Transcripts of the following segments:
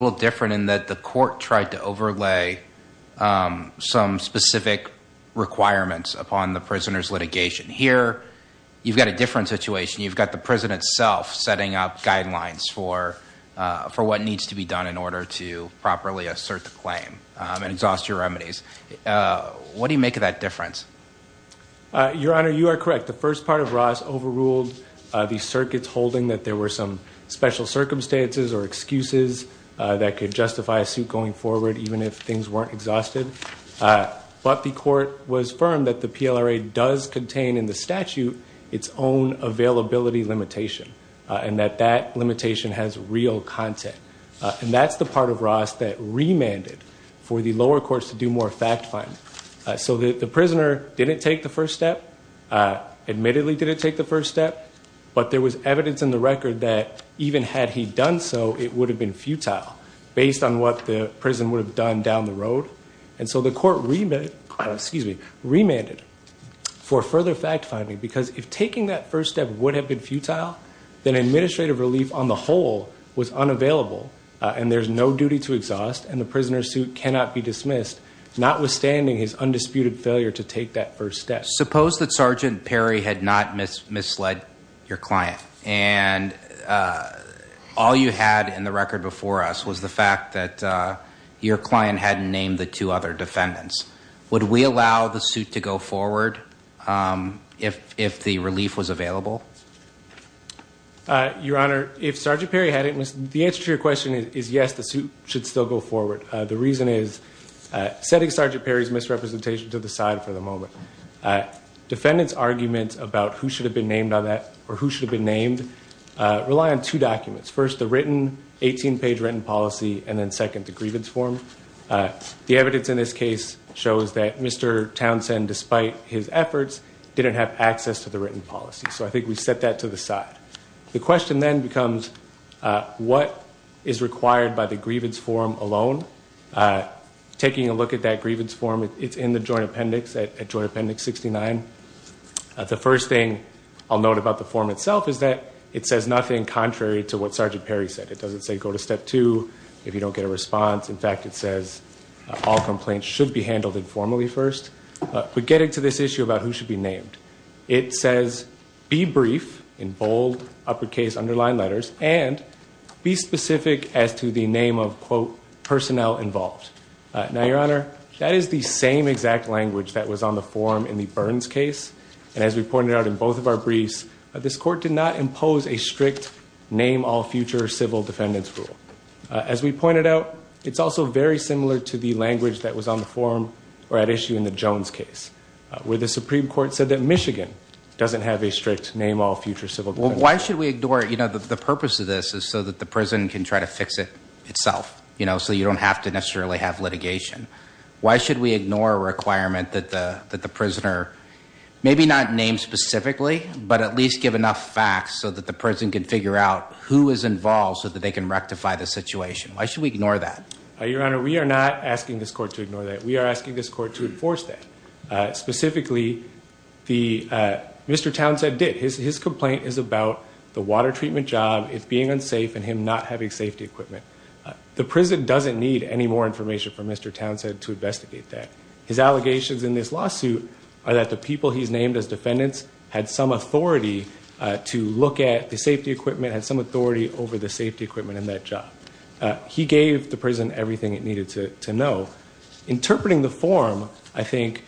little different in that the court tried to overlay some specific requirements upon the prisoners litigation here you've got a different situation you've got the prison itself setting up guidelines for for what needs to be done in order to properly assert the claim and exhaust your remedies what do you make of that difference your honor you are correct the first part of Ross overruled these circuits holding that there were some special circumstances or that could justify a suit going forward even if things weren't exhausted but the court was firm that the PLRA does contain in the statute its own availability limitation and that that limitation has real content and that's the part of Ross that remanded for the lower courts to do more fact-finding so that the prisoner didn't take the first step admittedly didn't take the first step but there was evidence in the record that even had he done so it would have been futile based on what the prison would have done down the road and so the court remade excuse me remanded for further fact-finding because if taking that first step would have been futile then administrative relief on the whole was unavailable and there's no duty to exhaust and the prisoner's suit cannot be dismissed notwithstanding his undisputed failure to take that first step suppose that sergeant Perry had not miss misled your and all you had in the record before us was the fact that your client hadn't named the two other defendants would we allow the suit to go forward if if the relief was available your honor if sergeant Perry had it was the answer to your question is yes the suit should still go forward the reason is setting sergeant Perry's misrepresentation to the side for the moment defendants arguments about who should have been named on that or who should have been named rely on two documents first the written 18 page written policy and then second to grievance form the evidence in this case shows that mr. Townsend despite his efforts didn't have access to the written policy so I think we set that to the side the question then becomes what is required by the grievance form alone taking a look at that grievance form it's in the joint appendix 69 the first thing I'll note about the form itself is that it says nothing contrary to what sergeant Perry said it doesn't say go to step 2 if you don't get a response in fact it says all complaints should be handled informally first but getting to this issue about who should be named it says be brief in bold uppercase underlined letters and be specific as to the name of quote personnel involved now your honor that is the same exact language that was on the forum in the Burns case and as we pointed out in both of our briefs this court did not impose a strict name all future civil defendants rule as we pointed out it's also very similar to the language that was on the forum or at issue in the Jones case where the Supreme Court said that Michigan doesn't have a strict name all future civil why should we ignore it you know that the purpose of this is so that the prison can try to fix it itself you know so you don't have to necessarily have litigation why should we ignore a the prisoner maybe not named specifically but at least give enough facts so that the person can figure out who is involved so that they can rectify the situation why should we ignore that your honor we are not asking this court to ignore that we are asking this court to enforce that specifically the mr. Townsend did his complaint is about the water treatment job if being unsafe and him not having safety equipment the prison doesn't need any more information from mr. Townsend to investigate that his allegations in this lawsuit are that the people he's named as defendants had some authority to look at the safety equipment had some authority over the safety equipment in that job he gave the prison everything it needed to know interpreting the form I think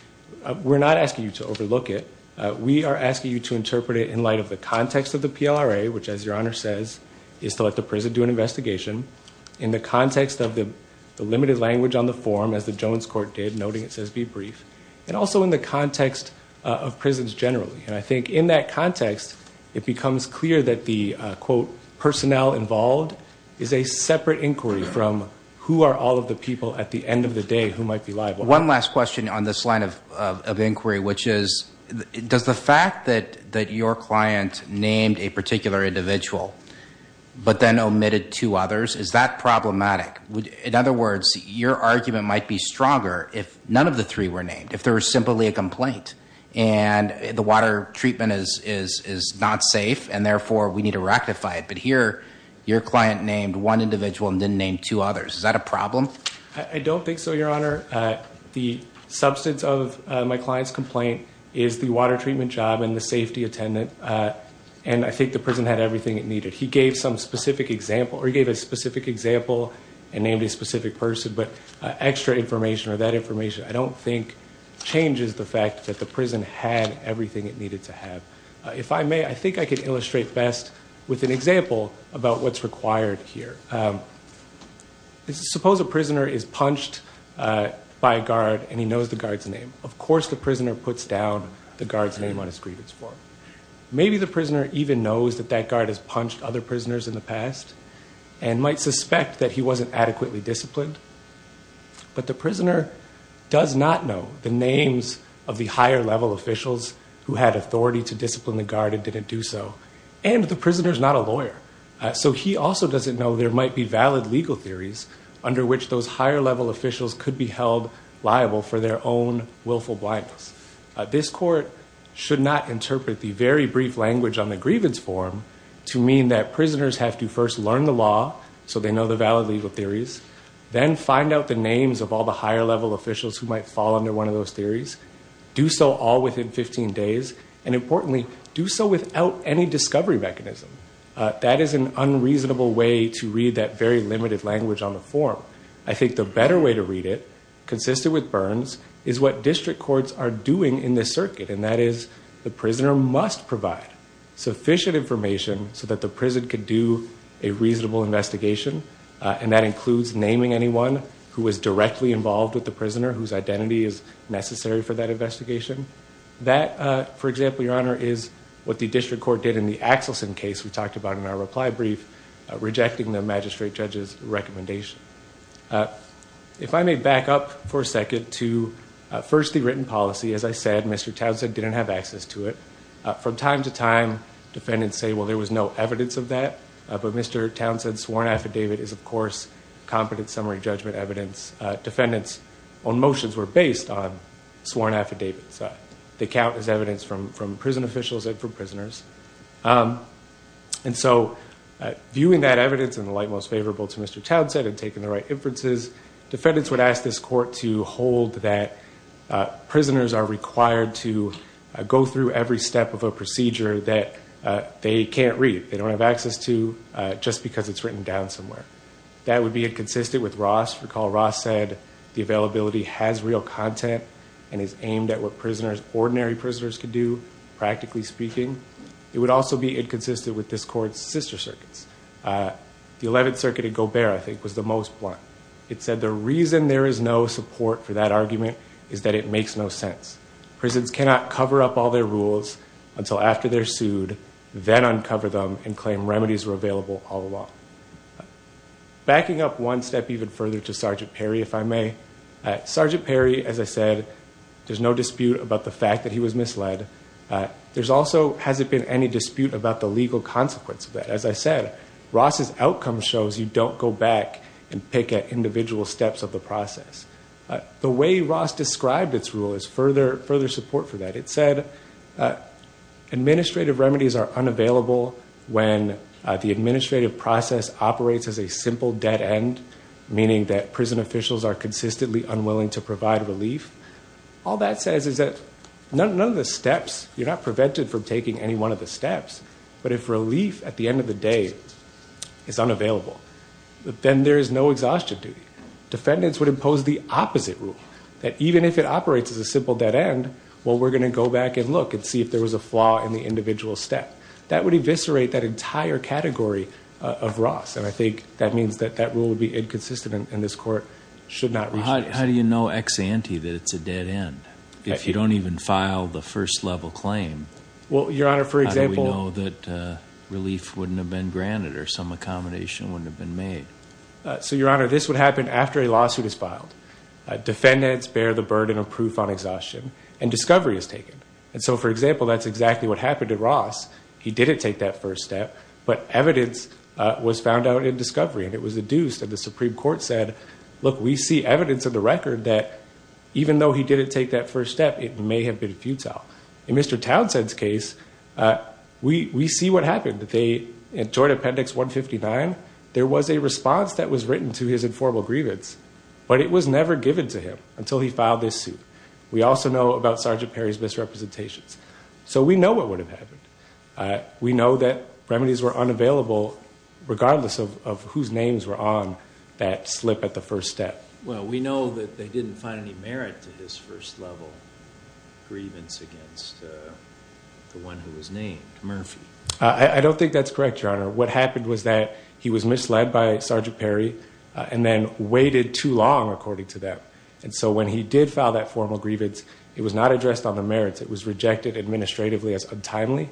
we're not asking you to overlook it we are asking you to interpret it in light of the context of the PLRA which as your honor says is to let the prison do an investigation in the context of the limited language on the forum as the in the context of prisons generally and I think in that context it becomes clear that the quote personnel involved is a separate inquiry from who are all of the people at the end of the day who might be liable one last question on this line of inquiry which is does the fact that that your client named a particular individual but then omitted two others is that problematic would in other words your argument might be stronger if none of the three were named if there were simply a complaint and the water treatment is is is not safe and therefore we need to rectify it but here your client named one individual and then named two others is that a problem I don't think so your honor the substance of my clients complaint is the water treatment job and the safety attendant and I think the prison had everything it needed he gave some specific example or gave a specific example and named a specific person but extra information or that information I don't think changes the fact that the prison had everything it needed to have if I may I think I could illustrate best with an example about what's required here suppose a prisoner is punched by a guard and he knows the guards name of course the prisoner puts down the guards name on his grievance form maybe the prisoner even knows that that guard has punched other prisoners in the past and might suspect that he wasn't adequately disciplined but the prisoner does not know the names of the higher-level officials who had authority to discipline the guard and didn't do so and the prisoners not a lawyer so he also doesn't know there might be valid legal theories under which those higher-level officials could be held liable for their own willful blindness this court should not interpret the very brief language on the grievance form to mean that prisoners have to first learn the law so they know the valid legal theories then find out the names of all the higher-level officials who might fall under one of those theories do so all within 15 days and importantly do so without any discovery mechanism that is an unreasonable way to read that very limited language on the form I think the better way to read it consisted with burns is what district courts are doing in this circuit and that is the prisoner must provide sufficient information so a reasonable investigation and that includes naming anyone who was directly involved with the prisoner whose identity is necessary for that investigation that for example your honor is what the district court did in the Axelson case we talked about in our reply brief rejecting the magistrate judge's recommendation if I may back up for a second to first the written policy as I said mr. Townsend didn't have access to it from time to time defendants say well there was no evidence of that but mr. Townsend sworn affidavit is of course competent summary judgment evidence defendants on motions were based on sworn affidavits that they count as evidence from from prison officials and for prisoners and so viewing that evidence in the light most favorable to mr. Townsend and taking the right inferences defendants would ask this court to hold that prisoners are required to go through every step of a can't read they don't have access to just because it's written down somewhere that would be inconsistent with Ross recall Ross said the availability has real content and is aimed at what prisoners ordinary prisoners could do practically speaking it would also be inconsistent with this court's sister circuits the 11th Circuit of Gobert I think was the most blunt it said the reason there is no support for that argument is that it makes no sense prisons cannot cover up all their rules until after they're sued then uncover them and claim remedies were available all along backing up one step even further to sergeant Perry if I may sergeant Perry as I said there's no dispute about the fact that he was misled there's also hasn't been any dispute about the legal consequence of that as I said Ross's outcome shows you don't go back and pick at individual steps of the process the way Ross described its rule is further further support for that it said administrative remedies are unavailable when the administrative process operates as a simple dead end meaning that prison officials are consistently unwilling to provide relief all that says is that none of the steps you're not prevented from taking any one of the steps but if relief at the end of the day is unavailable then there is no exhaustion to defendants would impose the opposite rule that even if it operates as a simple dead end well we're gonna go back and look and see if there was a flaw in the individual step that would eviscerate that entire category of Ross and I think that means that that rule would be inconsistent in this court should not how do you know ex-ante that it's a dead end if you don't even file the first level claim well your honor for example that relief wouldn't have been granted or some accommodation wouldn't have been made so your honor this would happen after a lawsuit is defendants bear the burden of proof on exhaustion and discovery is taken and so for example that's exactly what happened to Ross he didn't take that first step but evidence was found out in discovery and it was a deuce that the Supreme Court said look we see evidence of the record that even though he didn't take that first step it may have been futile in mr. Townsend's case we we see what happened that they enjoyed appendix 159 there was a response that was written to his informal grievance but it was never given to him until he filed this suit we also know about sergeant Perry's misrepresentations so we know what would have happened we know that remedies were unavailable regardless of whose names were on that slip at the first step well we know that they didn't find any merit to his first level grievance against the one who was named Murphy I don't think that's correct your honor what happened was that he was misled by sergeant Perry and then waited too long according to them and so when he did file that formal grievance it was not addressed on the merits it was rejected administratively as untimely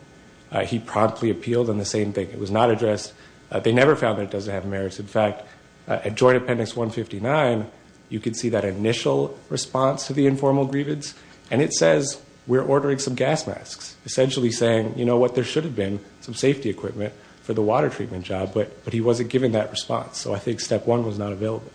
he promptly appealed on the same thing it was not addressed they never found that it doesn't have merits in fact a joint appendix 159 you can see that initial response to the informal grievance and it says we're ordering some gas masks essentially saying you know what there should have been some safety equipment for the water treatment job but but he wasn't given that response so I think step one was not available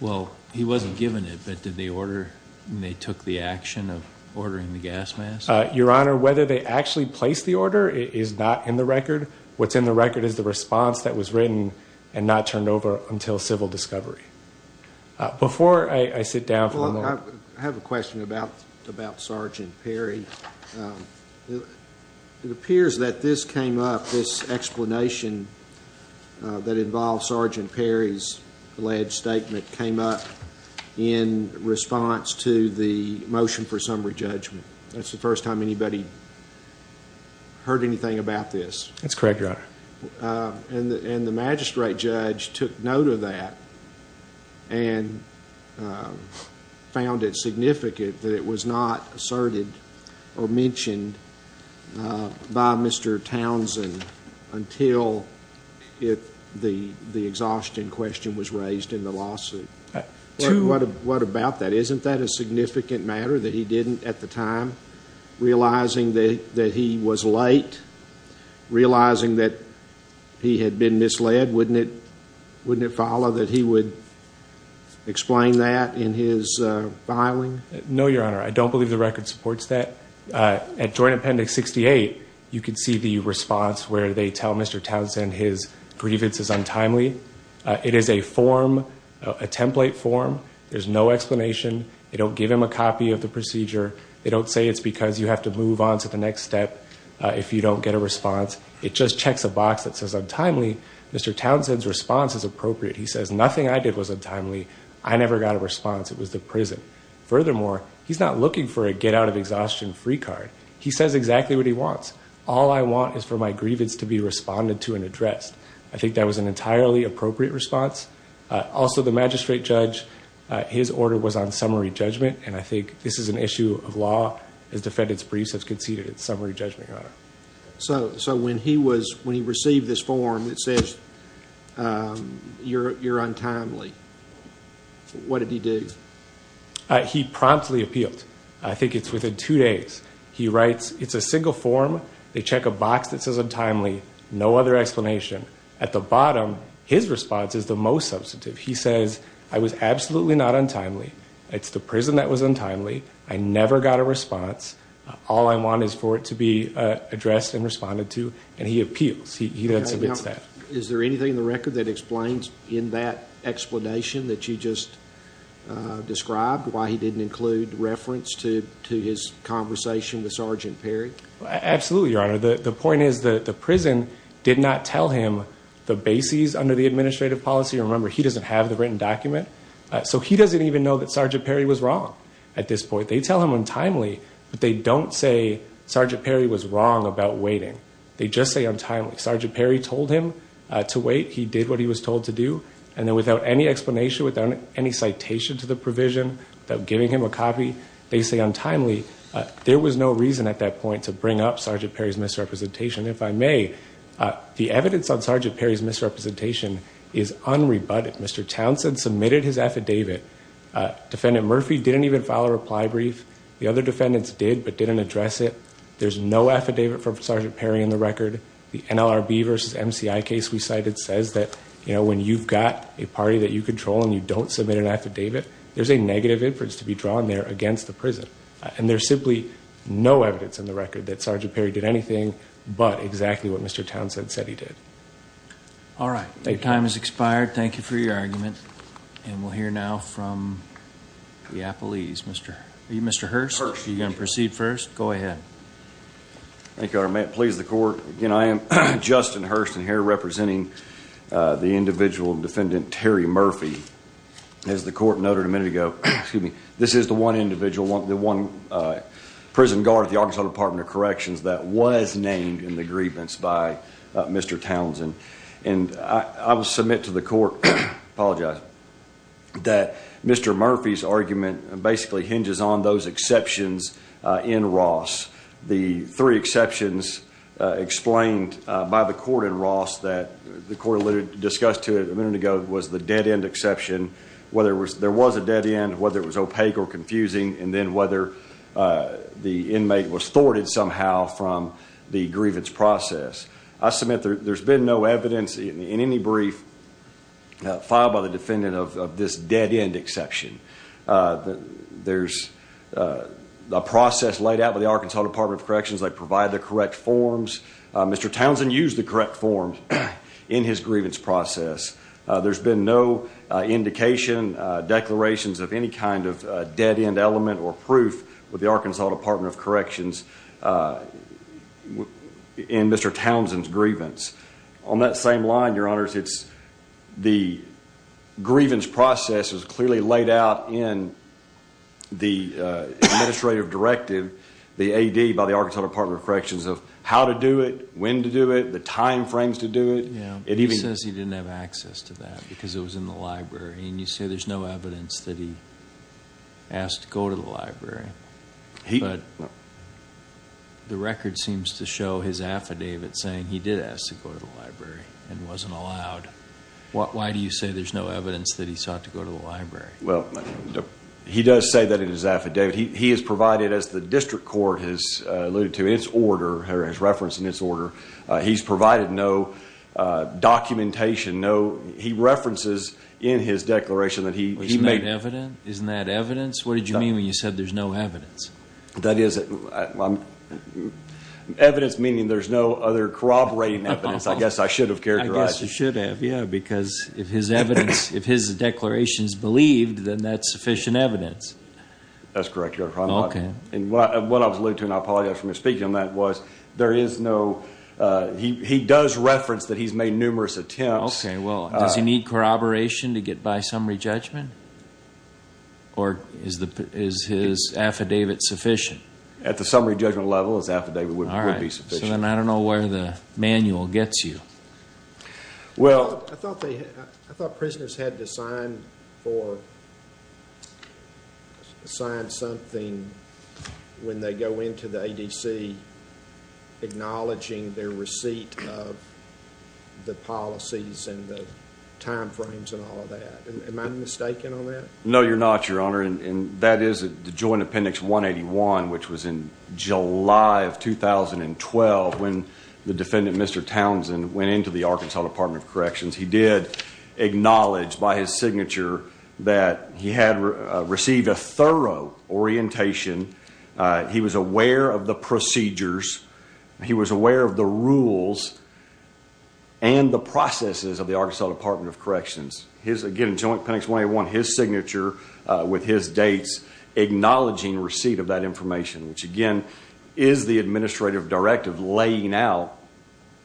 well he wasn't given it but did the order they took the action of ordering the gas mask your honor whether they actually placed the order is not in the record what's in the record is the response that was written and not turned over until civil discovery before I sit down I have a question about about sergeant Perry it appears that this came up this explanation that involves sergeant Perry's alleged statement came up in response to the motion for summary judgment that's the first time anybody heard anything about this that's correct your honor and the magistrate judge took note of that and found it significant that it was not asserted or mentioned by mr. Townsend until if the the exhaustion question was raised in the lawsuit what about that isn't that a significant matter that he didn't at the time realizing that that he was late realizing that he had been misled wouldn't it wouldn't it follow that he would explain that in his filing no your I don't believe the record supports that at Joint Appendix 68 you can see the response where they tell mr. Townsend his grievances untimely it is a form a template form there's no explanation they don't give him a copy of the procedure they don't say it's because you have to move on to the next step if you don't get a response it just checks a box that says untimely mr. Townsend's response is appropriate he says nothing I did was untimely I never got a response it was the prison furthermore he's not looking for a get out of exhaustion free card he says exactly what he wants all I want is for my grievance to be responded to and addressed I think that was an entirely appropriate response also the magistrate judge his order was on summary judgment and I think this is an issue of law as defendants briefs have conceded it's summary judgment so so when he was when he received this form it says you're untimely what did he do he promptly appealed I think it's within two days he writes it's a single form they check a box that says untimely no other explanation at the bottom his response is the most substantive he says I was absolutely not untimely it's the prison that was untimely I never got a response all I want is for it to be addressed and responded to and he appeals he does that explanation that you just described why he didn't include reference to to his conversation with sergeant Perry absolutely your honor the point is that the prison did not tell him the bases under the administrative policy remember he doesn't have the written document so he doesn't even know that sergeant Perry was wrong at this point they tell him untimely but they don't say sergeant Perry was wrong about waiting they just say untimely sergeant Perry told him to wait he did what he was told to do and then without any explanation without any citation to the provision that giving him a copy they say untimely there was no reason at that point to bring up sergeant Perry's misrepresentation if I may the evidence on sergeant Perry's misrepresentation is unrebutted mr. Townsend submitted his affidavit defendant Murphy didn't even file a reply brief the other defendants did but didn't address it there's no affidavit from sergeant Perry in the record the NLRB versus MCI case we cited says that you know when you've got a party that you control and you don't submit an affidavit there's a negative inference to be drawn there against the prison and there's simply no evidence in the record that sergeant Perry did anything but exactly what mr. Townsend said he did all right a time is expired thank you for your argument and we'll hear now from the Apple ease mr. mr. Hearst you're gonna proceed first go ahead thank our man please the court you know I am Justin Hurston here representing the individual defendant Terry Murphy as the court noted a minute ago excuse me this is the one individual want the one prison guard at the Arkansas Department of Corrections that was named in the grievance by mr. Townsend and I will submit to the court apologize that mr. Murphy's argument basically hinges on those exceptions in Ross the three exceptions explained by the court in Ross that the court alluded discussed to it a minute ago was the dead-end exception whether it was there was a dead end whether it was opaque or confusing and then whether the inmate was thwarted somehow from the grievance process I submit there's been no evidence in any brief filed by the defendant of this dead-end exception there's the process laid out by the Arkansas Department of Corrections they provide the correct forms mr. Townsend used the correct forms in his grievance process there's been no indication declarations of any kind of dead-end element or proof with the Arkansas Department of Corrections in mr. Townsend's grievance on that same line your honors it's the grievance process was clearly laid out in the administrative directive the ad by the Arkansas Department of Corrections of how to do it when to do it the time frames to do it yeah it even says he didn't have access to that because it was in the library and you say there's no evidence that he asked to go to the saying he did ask to go to the library and wasn't allowed what why do you say there's no evidence that he sought to go to the library well he does say that in his affidavit he has provided as the district court has alluded to its order her as reference in this order he's provided no documentation no he references in his declaration that he made evident isn't that evidence what did you mean when you said there's no evidence that is evidence meaning there's no other corroborating evidence I guess I should have cared I guess you should have yeah because if his evidence if his declarations believed then that's sufficient evidence that's correct you're probably okay and what I was looking I apologize for me speaking on that was there is no he does reference that he's made numerous attempts well does he need corroboration to get by summary judgment or is the is his affidavit sufficient at the summary judgment level is affidavit would be sufficient I don't know where the manual gets you well I thought they had I thought prisoners had to sign for sign something when they go into the ADC acknowledging their receipt of the policies and the time frames and all of that am I mistaken on that no you're not your honor and that is a joint appendix 181 which was in July of 2012 when the defendant mr. Townsend went into the Arkansas Department of Corrections he did acknowledge by his signature that he had received a thorough orientation he was aware of the procedures he was aware of the rules and the processes of the Arkansas Department of Corrections his again joint penance when I want his signature with his dates acknowledging receipt of that information which again is the administrative directive laying out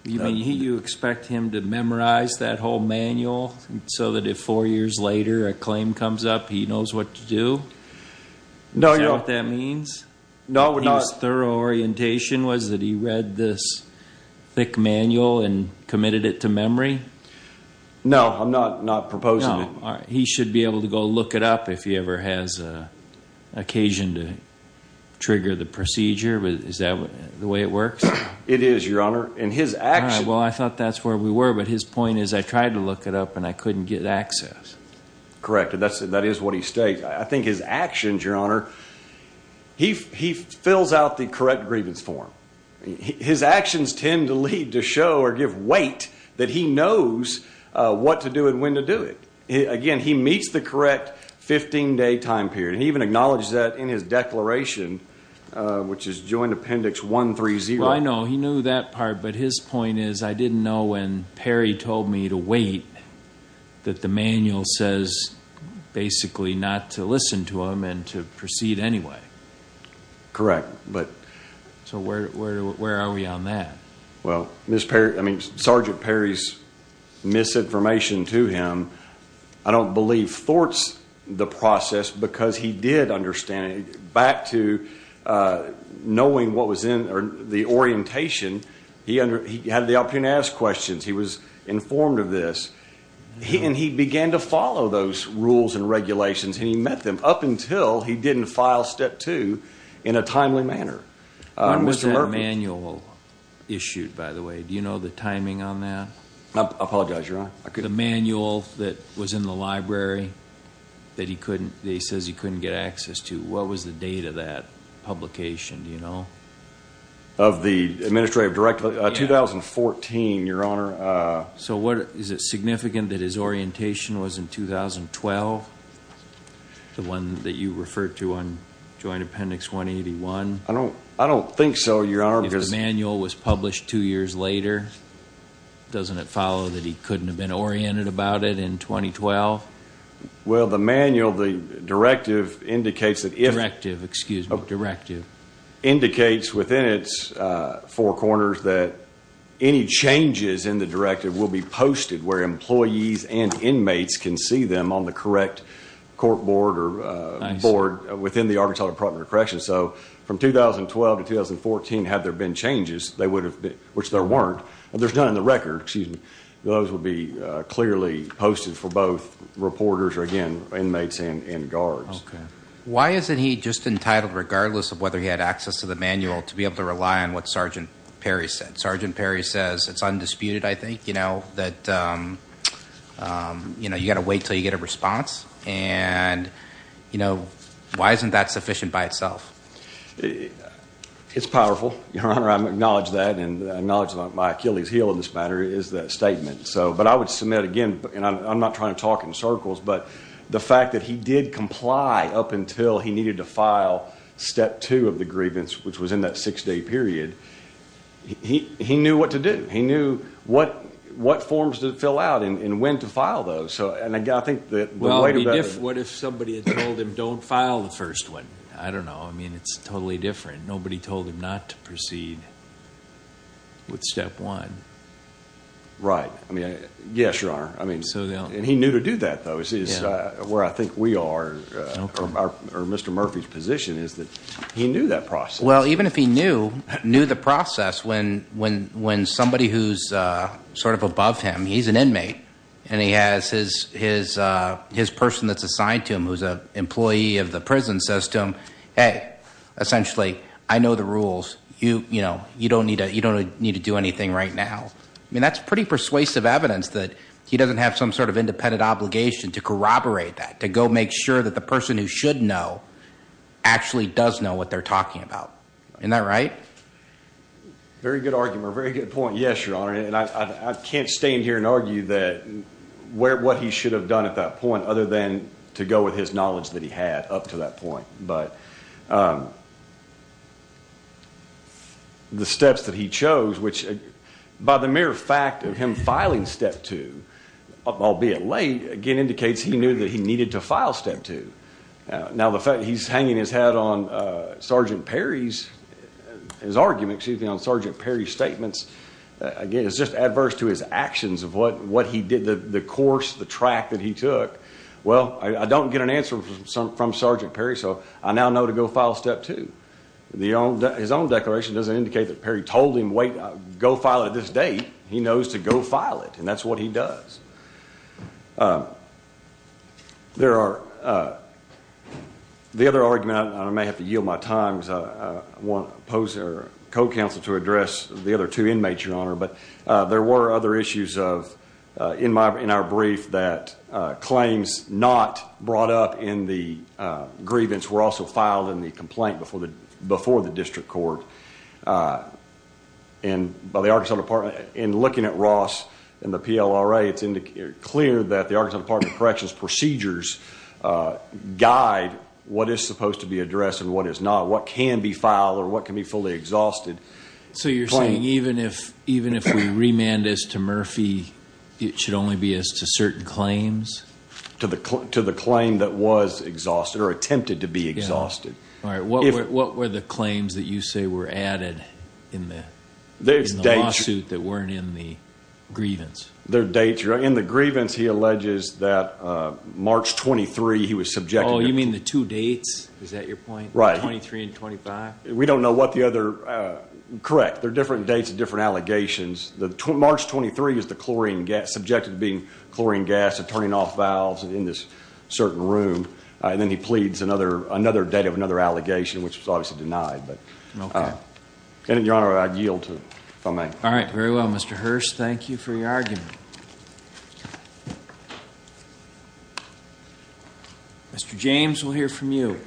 you mean you expect him to memorize that whole manual so that if four years later a claim comes up he knows what to do no you know what that means no we're not thorough orientation was that he read this thick manual and committed it to memory no I'm not not proposing he should be able to go look it up if he ever has a occasion to trigger the procedure but is that the way it works it is your honor and his action well I thought that's where we were but his point is I tried to look it up and I couldn't get access corrected that's it that is what he states I think his actions your honor he fills out the correct grievance form his actions tend to lead to show or give weight that he knows what to do and when to do it again he meets the correct 15 day time period he even acknowledged that in his declaration which is joint appendix 130 I know he knew that part but his point is I didn't know when Perry told me to wait that the manual says basically not to listen to him and to proceed anyway correct but so where are we on that well mr. Perry I mean sergeant Perry's misinformation to him I don't believe thwarts the process because he did understand it back to knowing what was in or the orientation he under he had the opportunity to ask questions he was informed of this he and he began to follow those rules and regulations and he met them up until he didn't file step two in a timely manner manual issued by the way do you know the timing on that I apologize your honor I could a manual that was in the library that he couldn't he says he couldn't get access to what was the date of that publication you know of the administrative director 2014 your honor so what is it significant that his orientation was in 2012 the one that you referred to on joint appendix 181 I don't think so your honor manual was published two years later doesn't it follow that he couldn't have been oriented about it in 2012 well the manual the directive indicates that if active excuse a directive indicates within its four corners that any changes in the directive will be posted where employees and inmates can see them on the correct court board or board within the Arkansas Department of Corrections so from 2012 to 2014 had there been changes they would have been which there weren't there's none in the record excuse me those would be clearly posted for both reporters or again inmates and guards why isn't he just entitled regardless of whether he had access to the manual to be able to rely on what sergeant Perry said sergeant Perry says it's undisputed I think you know that you know you got to wait till you get a response and you know why isn't that sufficient by itself it's powerful your honor I'm acknowledge that and knowledge about my Achilles heel in this matter is that statement so but I would submit again and I'm not trying to talk in circles but the fact that he did comply up until he needed to file step two of the grievance which was in that six-day period he he knew what to do he knew what what forms to fill out in and when to file those so and I think that what if somebody told him don't file the first one I don't know I mean it's totally different nobody told him not to proceed with step one right I mean yes your honor I mean so they'll and he knew to do that though is where I think we are mr. Murphy's position is that he knew that process well even if he knew the process when when when somebody who's sort of above him he's an inmate and he has his his his person that's assigned to him who's a employee of the prison system hey essentially I know the rules you you know you don't need to you don't need to do anything right now I mean that's pretty persuasive evidence that he doesn't have some sort of independent obligation to corroborate that to go make sure that the person who should know actually does know what they're talking about in that right very good argument very good point yes your honor and I can't stand here and argue that where what he should have done at that point other than to go with his knowledge that he had up to that point but the steps that he chose which by the mere fact of him filing step two albeit late again indicates he knew that he needed to file step two now the fact he's hanging his head on sergeant Perry's his argument excuse me on sergeant Perry's statements again it's just adverse to his actions of what what he did the course the track that he took well I don't get an answer from sergeant Perry so I now know to go file step two the his own declaration doesn't indicate that Perry told him wait go file at this date he knows to go file it and that's what he does there are the other argument I may have to yield my times I want pose their co-counsel to address the other two inmates your honor but there were other issues of in my in our brief that claims not brought up in the grievance were also filed in the complaint before the before the district court and by the Arkansas Department in looking at Ross and the PLRA it's indicated clear that the Arkansas Department of Corrections procedures guide what is supposed to be addressed and what is not what can be filed or what can be fully exhausted so you're saying even if even if we remand this to Murphy it should only be as to certain claims to the club to the claim that was exhausted or attempted to be exhausted all right what what were the claims that you say were added in there's days suit that weren't in the grievance their date you're in the grievance he alleges that March 23 he was subject all you mean the two dates is that your point right 23 and 25 we don't know what the other correct they're different dates of different allegations the March 23 is the chlorine gas subjected being chlorine gas of turning off valves and in this certain room and then he pleads another another date of another allegation which was obviously denied but no and your honor I'd yield to my name all right very well mr. Hearst thank you for your argument mr. James we'll hear from you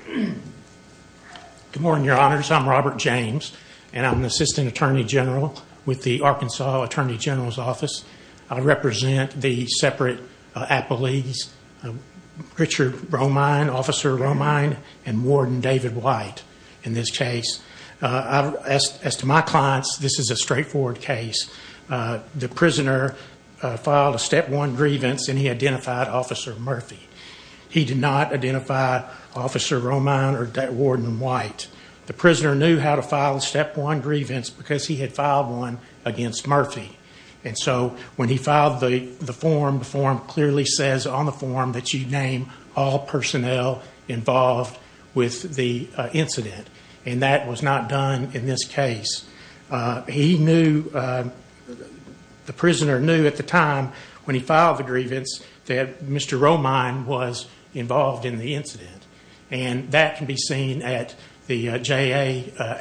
good morning your honors I'm Robert James and I'm the assistant attorney general with the Arkansas Attorney General's office I represent the separate a police Richard bromine officer Romine and Warden David white in this case as to my clients this is a straightforward case the prisoner filed a step one grievance and he identified officer Murphy he did not identify officer Romine or that Warden white the prisoner knew how to file step one grievance because he had filed one against Murphy and so when he filed the the form the form clearly says on the form that you name all personnel with the incident and that was not done in this case he knew the prisoner knew at the time when he filed the grievance that mr. Romine was involved in the incident and that can be seen at the ja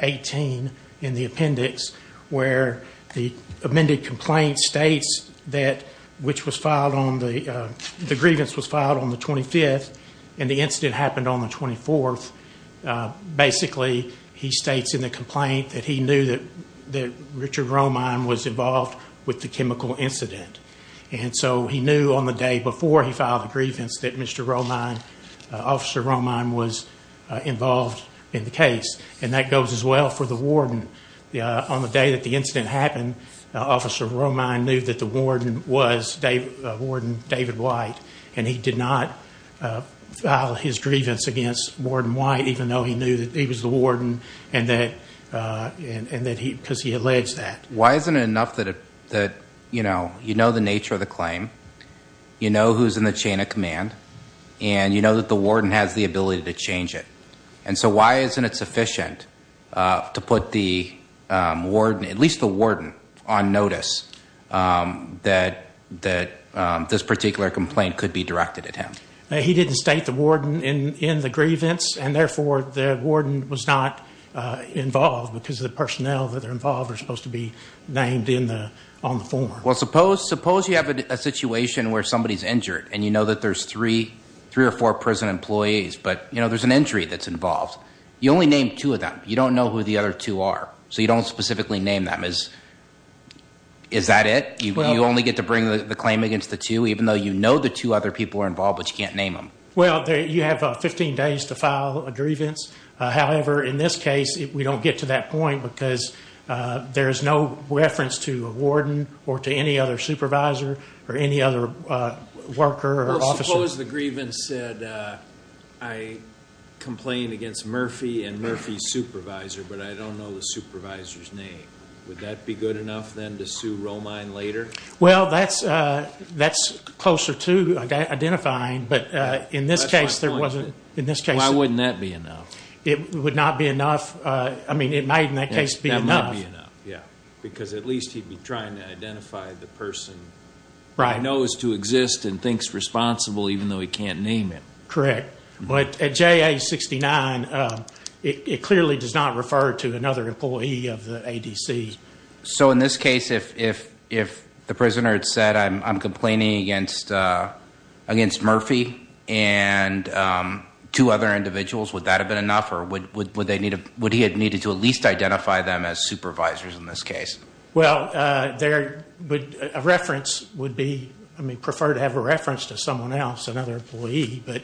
18 in the appendix where the amended complaint states that which was filed on the the grievance was filed on the 25th and the incident happened on the 24th basically he states in the complaint that he knew that that Richard Romine was involved with the chemical incident and so he knew on the day before he filed a grievance that mr. Romine officer Romine was involved in the case and that goes as well for the warden yeah on the day that the incident happened officer Romine knew that the warden was David white and he did not file his grievance against warden white even though he knew that he was the warden and that and that he because he alleged that why isn't it enough that it that you know you know the nature of the claim you know who's in the chain of command and you know that the warden has the ability to change it and so why isn't it sufficient to put the warden at notice that that this particular complaint could be directed at him he didn't state the warden in in the grievance and therefore the warden was not involved because the personnel that are involved are supposed to be named in the on the form well suppose suppose you have a situation where somebody's injured and you know that there's three three or four prison employees but you know there's an injury that's involved you only named two of them you don't know who the other two are so you don't specifically name them as is that it you only get to bring the claim against the two even though you know the two other people are involved but you can't name them well you have 15 days to file a grievance however in this case if we don't get to that point because there's no reference to a warden or to any other supervisor or any other worker or but I don't know the supervisor's name would that be good enough then to sue Romine later well that's that's closer to identifying but in this case there wasn't in this case I wouldn't that be enough it would not be enough I mean it might in that case be enough yeah because at least he'd be trying to identify the person right knows to exist and thinks responsible even though he correct but at JA 69 it clearly does not refer to another employee of the ADC so in this case if if if the prisoner had said I'm complaining against against Murphy and two other individuals would that have been enough or would they need a would he had needed to at least identify them as supervisors in this case well there but a reference would be I mean prefer to have a reference to someone else another employee but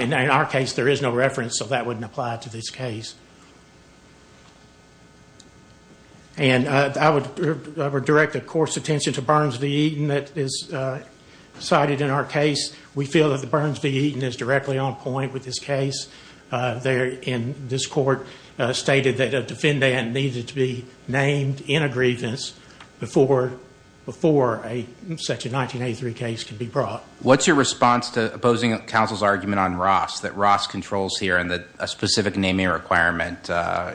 in our case there is no reference so that wouldn't apply to this case and I would direct a course attention to burns the Eden that is cited in our case we feel that the burns be eaten is directly on point with this case there in this court stated that a defendant needed to be named in a grievance before before a section 1983 case can be brought what's your response to opposing counsel's argument on Ross that Ross controls here and that a specific naming requirement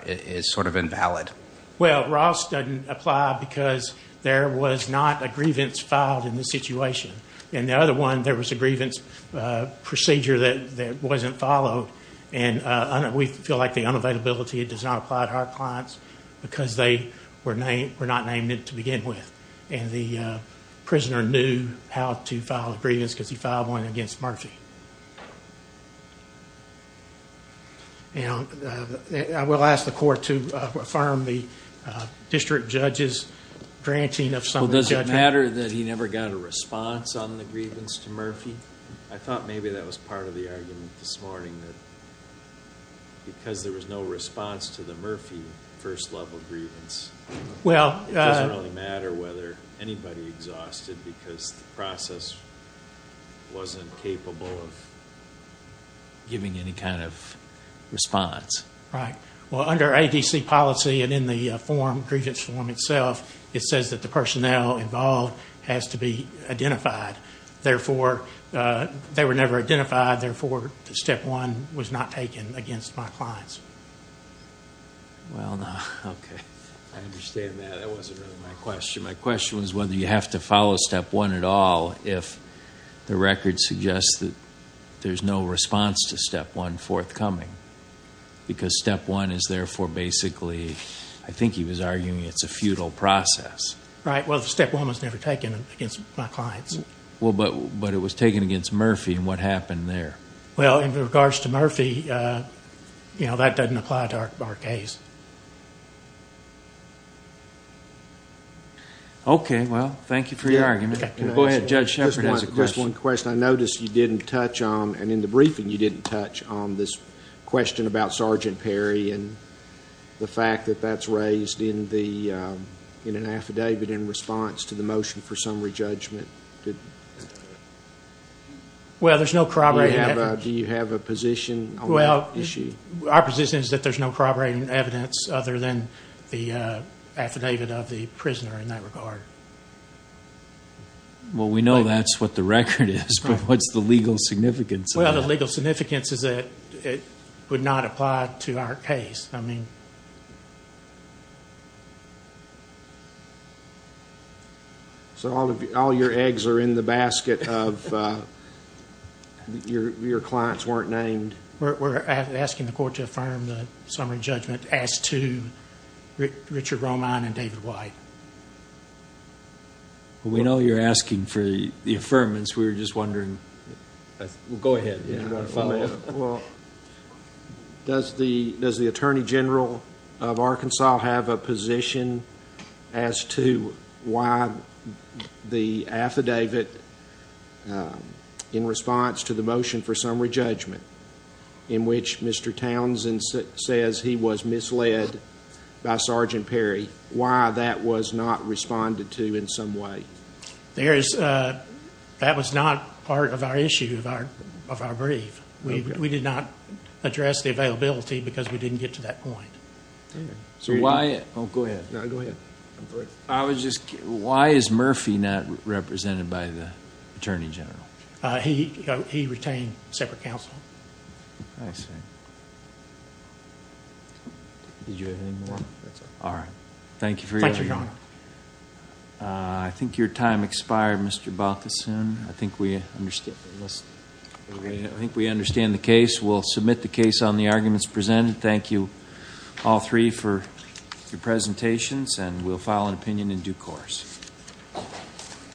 is sort of invalid well Ross doesn't apply because there was not a grievance filed in the situation and the other one there was a grievance procedure that wasn't followed and we feel like the unavailability it does not apply to our clients because they were named we're not named it to begin with and the prisoner knew how to file grievance because he filed one against Murphy you know I will ask the court to affirm the district judges granting of some does it matter that he never got a response on the grievance to Murphy I thought maybe that was part of the argument this morning that because there was no response to the Murphy first level grievance well it doesn't really matter whether anybody exhausted because the process wasn't capable of giving any kind of response right well under ADC policy and in the form grievance form itself it says that the personnel involved has to be identified therefore they were never identified therefore the step one was not taken against my clients well okay I understand that it was whether you have to follow step one at all if the record suggests that there's no response to step one forthcoming because step one is therefore basically I think he was arguing it's a feudal process right well the step one was never taken against my clients well but but it was taken against Murphy and what happened there well in regards to Murphy you know that doesn't apply to our case okay well thank you for your argument go ahead judge just one question I noticed you didn't touch on and in the briefing you didn't touch on this question about sergeant Perry and the fact that that's raised in the in an affidavit in response to the motion for summary judgment well there's no corroborate do you have a position well our position is that there's no corroborating evidence other than the affidavit of the prisoner in that regard well we know that's what the record is but what's the legal significance well the legal significance is that it would not apply to our case I all your eggs are in the basket of your clients weren't named we're asking the court to affirm the summary judgment as to Richard Roman and David White we know you're asking for the affirmance we were just wondering go ahead well does the does the Attorney General of Arkansas have a position as to why the affidavit in response to the motion for summary judgment in which mr. Townsend says he was misled by sergeant Perry why that was not responded to in some way there is that was not part of our issue of our of our brief we did not address the availability because we didn't get to that point so why I was just why is Murphy not represented by the Attorney General he he retained separate counsel all right thank you for your honor I think your time expired mr. Balthuson I think we understood I think we understand the case we'll submit the arguments presented thank you all three for your presentations and we'll file an opinion in due course